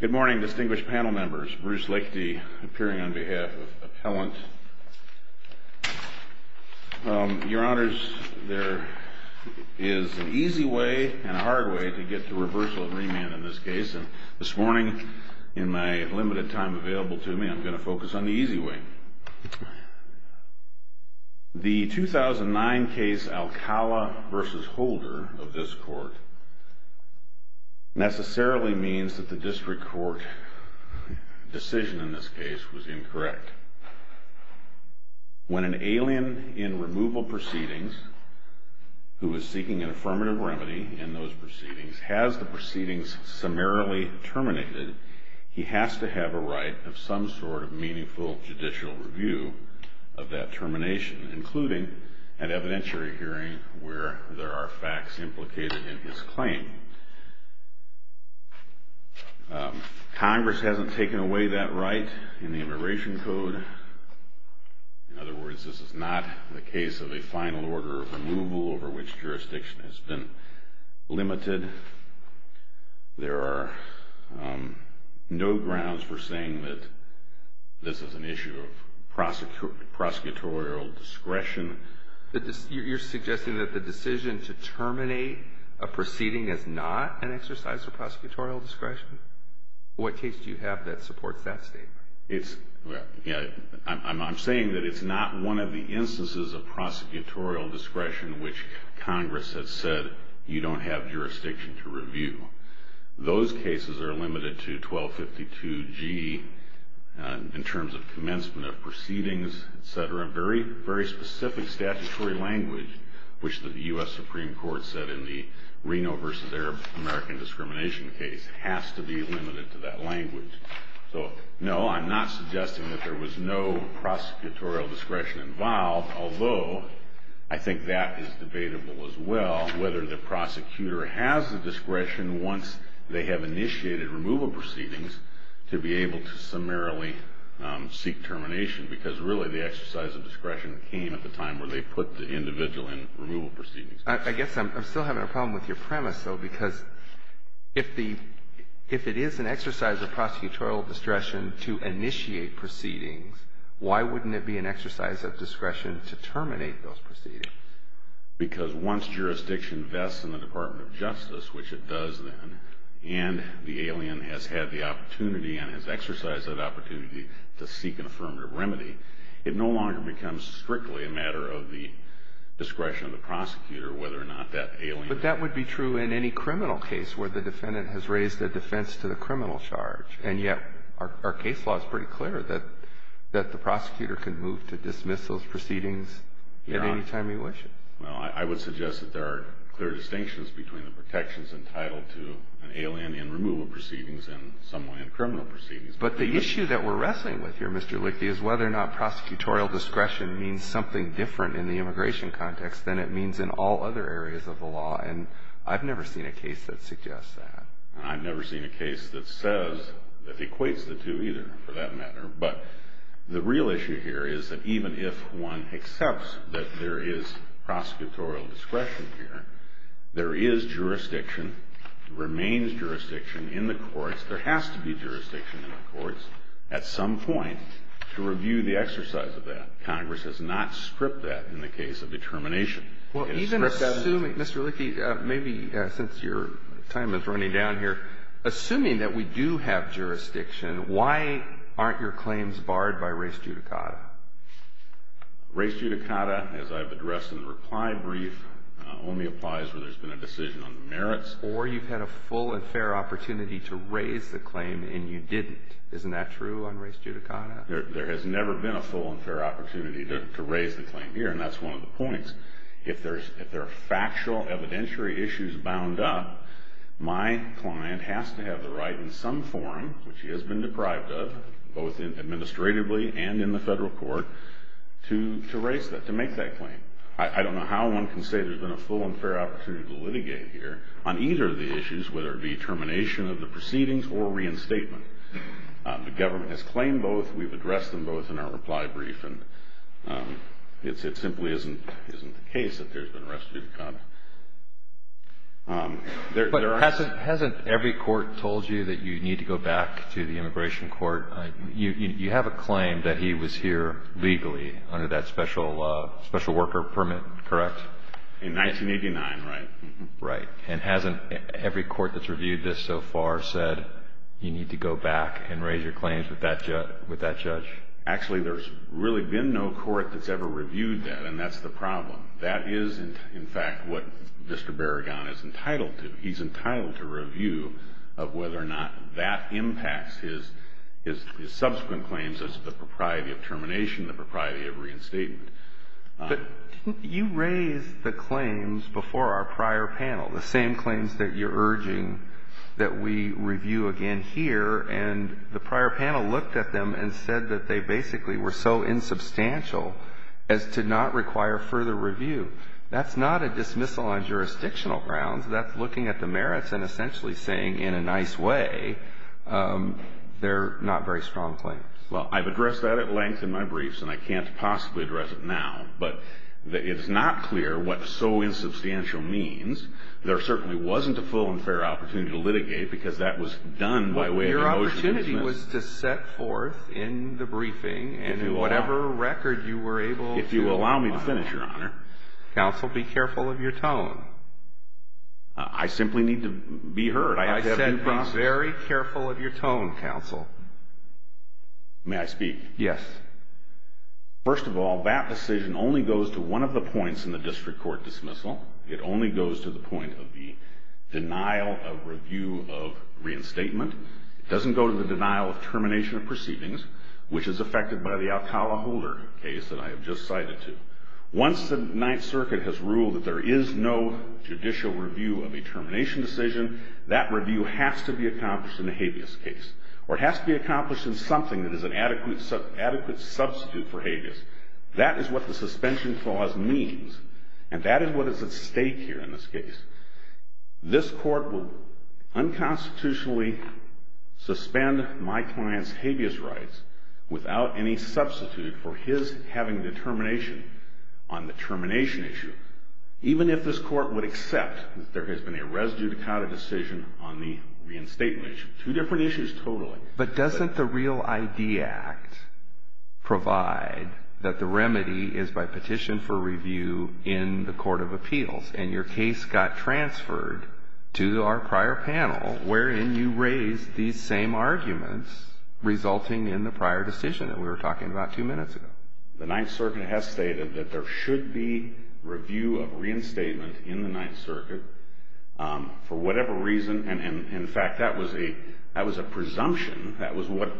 Good morning distinguished panel members. Bruce Lichty appearing on behalf of appellant. Your honors there is an easy way and a hard way to get to reversal and remand in this case and this morning in my limited time available to me I'm going to focus on the easy way. The 2009 case Alcala v. Holder of this district court decision in this case was incorrect. When an alien in removal proceedings who is seeking an affirmative remedy in those proceedings has the proceedings summarily terminated he has to have a right of some sort of meaningful judicial review of that termination including an evidentiary hearing where there are facts implicated in his claim. Congress hasn't taken away that right in the immigration code. In other words this is not the case of a final order of removal over which jurisdiction has been limited. There are no grounds for saying that this is an issue of prosecutorial discretion. You're suggesting that the decision to terminate a proceeding is not an exercise of prosecutorial discretion? What case do you have that supports that statement? I'm saying that it's not one of the instances of prosecutorial discretion which Congress has said you don't have jurisdiction to review. Those cases are limited to 1252 G in terms of commencement of proceedings etc. Very specific statutory language which the US Supreme Court said in the Reno v. Arab American discrimination case has to be limited to that language. So no I'm not suggesting that there was no prosecutorial discretion involved although I think that is debatable as well whether the prosecutor has the discretion once they have initiated removal proceedings to be able to seek termination because really the exercise of discretion came at the time where they put the individual in removal proceedings. I guess I'm still having a problem with your premise though because if it is an exercise of prosecutorial discretion to initiate proceedings why wouldn't it be an exercise of discretion to terminate those proceedings? Because once jurisdiction vests in the Department of Justice which it does then and the alien has had the opportunity and has exercised that opportunity to seek an affirmative remedy it no longer becomes strictly a matter of the discretion of the prosecutor whether or not that alien... But that would be true in any criminal case where the defendant has raised a defense to the criminal charge and yet our case law is pretty clear that that the prosecutor can move to dismiss those proceedings at any time you wish. Well I would suggest that there are clear distinctions between the protections entitled to an alien in removal proceedings and someone in criminal proceedings. But the issue that we're wrestling with here Mr. Lichte is whether or not prosecutorial discretion means something different in the immigration context than it means in all other areas of the law and I've never seen a case that suggests that. I've never seen a case that says that equates the two either for that matter but the real issue here is that even if one accepts that there is prosecutorial discretion here there is jurisdiction remains jurisdiction in the courts there has to be jurisdiction in the courts at some point to review the exercise of that. Congress has not stripped that in the case of determination. Well even assuming Mr. Lichte maybe since your time is running down here assuming that we do have jurisdiction why aren't your claims barred by race judicata? Race judicata only applies when there's been a decision on the merits. Or you've had a full and fair opportunity to raise the claim and you didn't. Isn't that true on race judicata? There has never been a full and fair opportunity to raise the claim here and that's one of the points. If there's if there are factual evidentiary issues bound up my client has to have the right in some form which he has been deprived of both in administratively and in the federal court to to raise that to make that claim. I don't know how one can say there's been a full and fair opportunity to litigate here on either of the issues whether it be termination of the proceedings or reinstatement. The government has claimed both we've addressed them both in our reply brief and it's it simply isn't isn't the case that there's been a restitution. But hasn't every court told you that you need to go back to the immigration court? You have a claim that he was here legally under that special special worker permit correct? In 1989 right. Right and hasn't every court that's reviewed this so far said you need to go back and raise your claims with that judge? Actually there's really been no court that's ever reviewed that and that's the problem. That is in fact what Mr. Barragan is entitled to. He's entitled to review of whether or not that impacts his subsequent claims as the propriety of termination the propriety of reinstatement. But you raised the claims before our prior panel the same claims that you're urging that we review again here and the prior panel looked at them and said that they basically were so insubstantial as to not require further review. That's not a dismissal on jurisdictional grounds that's looking at the merits and essentially saying in a nice way they're not very strong claims. Well I've addressed that at length in my briefs and I can't possibly address it now but it's not clear what so insubstantial means. There certainly wasn't a full and fair opportunity to litigate because that was done by way of motion. Your opportunity was to set forth in the briefing and in whatever record you were able to. If you allow me to finish your honor. Counsel be careful of your tone. I simply need to be heard. I said be careful of your tone counsel. May I speak? Yes. First of all that decision only goes to one of the points in the district court dismissal. It only goes to the point of the denial of review of reinstatement. It doesn't go to the denial of termination of proceedings which is affected by the Alcala Holder case that I have just cited to. Once the judicial review of a termination decision that review has to be accomplished in a habeas case or it has to be accomplished in something that is an adequate substitute for habeas. That is what the suspension clause means and that is what is at stake here in this case. This court will unconstitutionally suspend my client's habeas rights without any substitute for his having determination on the termination issue. Even if this court would accept that there has been a res judicata decision on the reinstatement issue. Two different issues totally. But doesn't the Real ID Act provide that the remedy is by petition for review in the court of appeals and your case got transferred to our prior panel wherein you raised these same arguments resulting in the prior decision that we were talking about two minutes ago. The Ninth Circuit has stated that there should be review of reinstatement in the Ninth Circuit for whatever reason and in fact that was a presumption. That was what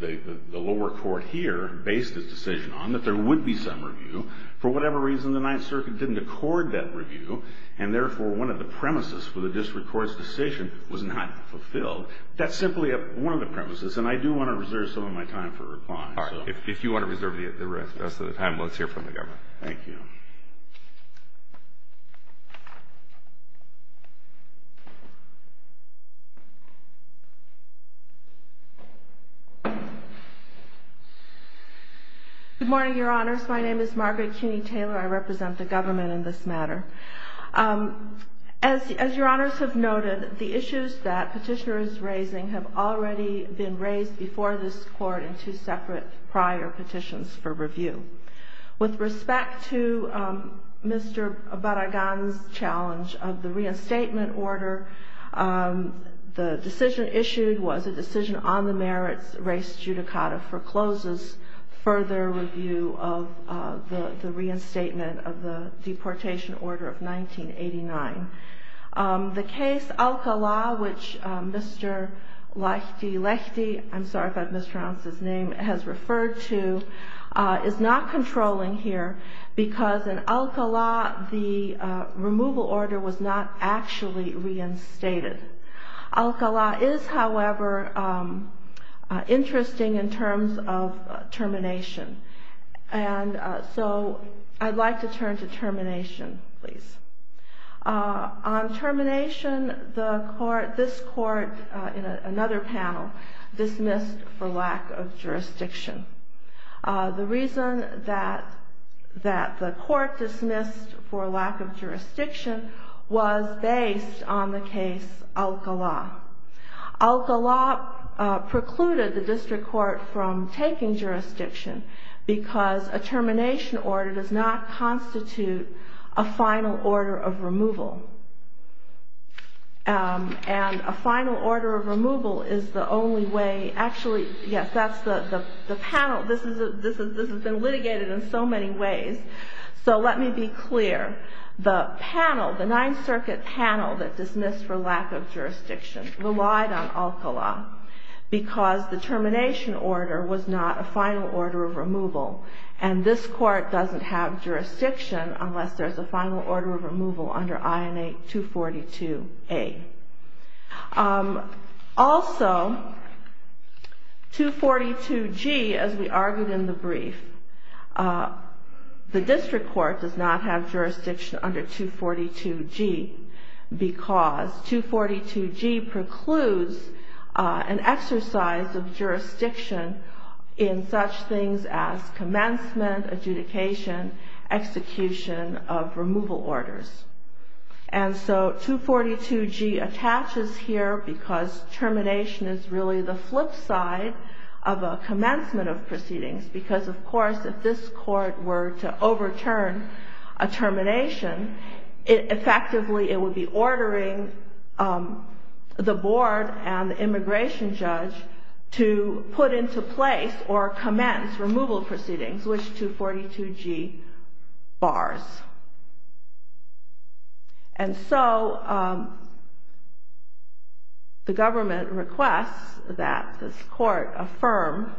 the lower court here based its decision on. That there would be some review. For whatever reason the Ninth Circuit didn't accord that review and therefore one of the premises for the district court's decision was not premises and I do want to reserve some of my time for reply. If you want to reserve the rest of the time, let's hear from the government. Thank you. Good morning, your honors. My name is Margaret Kinney Taylor. I represent the government in this matter. Um, as as your honors have noted, the issues that have been raised before this court in two separate prior petitions for review. With respect to Mr. Barragan's challenge of the reinstatement order, the decision issued was a decision on the merits, race judicata forecloses further review of the reinstatement of the deportation order of 1989. The case Alcala, which Mr. Lahti Lahti, I'm sorry if I've mispronounced his name, has referred to, is not controlling here because in Alcala the removal order was not actually reinstated. Alcala is, however, interesting in terms of termination. And so I'd like to turn to termination, please. On termination, the court, this court, in another panel, dismissed for lack of jurisdiction. The reason that that the court dismissed for lack of jurisdiction was based on the case Alcala. Alcala precluded the district court from taking jurisdiction because a termination order does not constitute a final order of removal. And a final order of removal is the only way, actually, yes, that's the panel. This has been litigated in so many ways. So let me be clear. The panel, the Ninth Circuit panel that dismissed for lack of jurisdiction relied on Alcala because the termination order was not a final order of removal. And this court doesn't have jurisdiction unless there's a final order of removal under INA 242. Also, 242G, as we argued in the brief, the district court does not have jurisdiction under 242G because 242G precludes an exercise of jurisdiction in such things as commencement, adjudication, execution of removal procedures. And 242G attaches here because termination is really the flip side of a commencement of proceedings. Because, of course, if this court were to overturn a termination, effectively, it would be ordering the board and the immigration judge to put into place or commence removal proceedings, which 242G bars. And so the government requests that this court affirm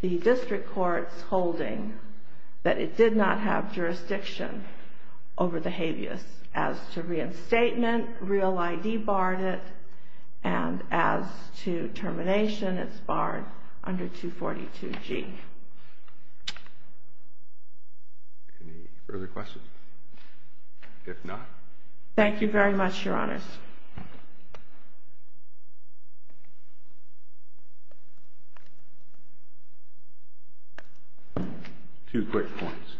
the district court's holding that it did not have jurisdiction over the habeas as to reinstatement, real ID barred it, and as to termination, it's barred under 242G. Any further questions? If not... Thank you very much, Your Honors. Two quick points.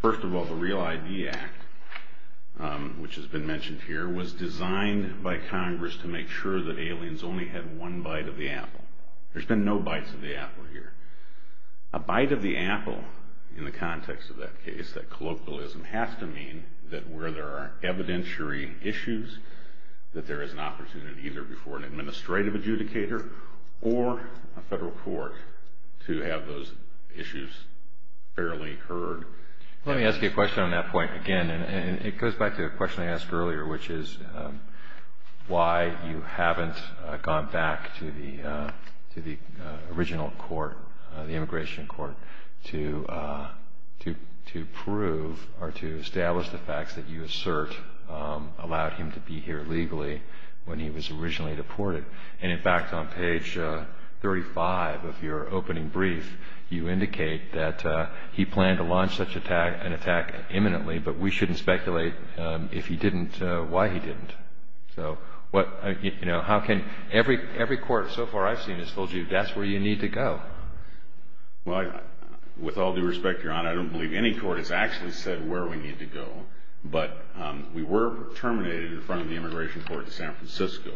First of all, the Real ID Act, which has been mentioned here, was designed by Congress to make sure that aliens only had one bite of the apple. A bite of the apple in the context of that case, that colloquialism has to mean that where there are evidentiary issues, that there is an opportunity either before an administrative adjudicator or a federal court to have those issues fairly heard. Let me ask you a question on that point again. And it goes back to a question I asked earlier, which is why you haven't gone back to the original court, the immigration court, to prove or to establish the facts that you assert allowed him to be here legally when he was originally deported. And in fact, on page 35 of your opening brief, you indicate that he planned to launch such an attack imminently, but we shouldn't speculate if he did. Every court so far I've seen has told you that's where you need to go. Well, with all due respect, Your Honor, I don't believe any court has actually said where we need to go. But we were terminated in front of the immigration court in San Francisco.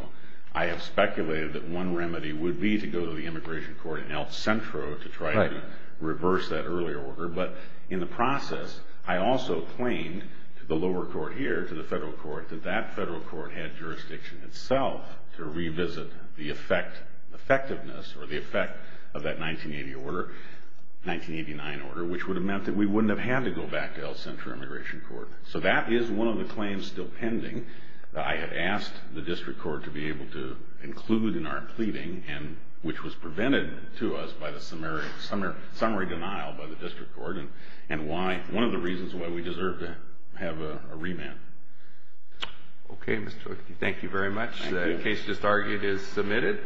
I have speculated that one remedy would be to go to the immigration court in El Centro to try to reverse that earlier order. But in the process, I also claimed to the lower court here, to the federal court, that that federal court had jurisdiction itself to revisit the effectiveness or the effect of that 1989 order, which would have meant that we wouldn't have had to go back to El Centro immigration court. So that is one of the claims still pending that I had asked the district court to be able to include in our pleading, which was prevented to us by the summary denial by the district court and one of the reasons why we deserve to have a remand. Okay, Mr. O'Keefe. Thank you very much. The case just argued is submitted.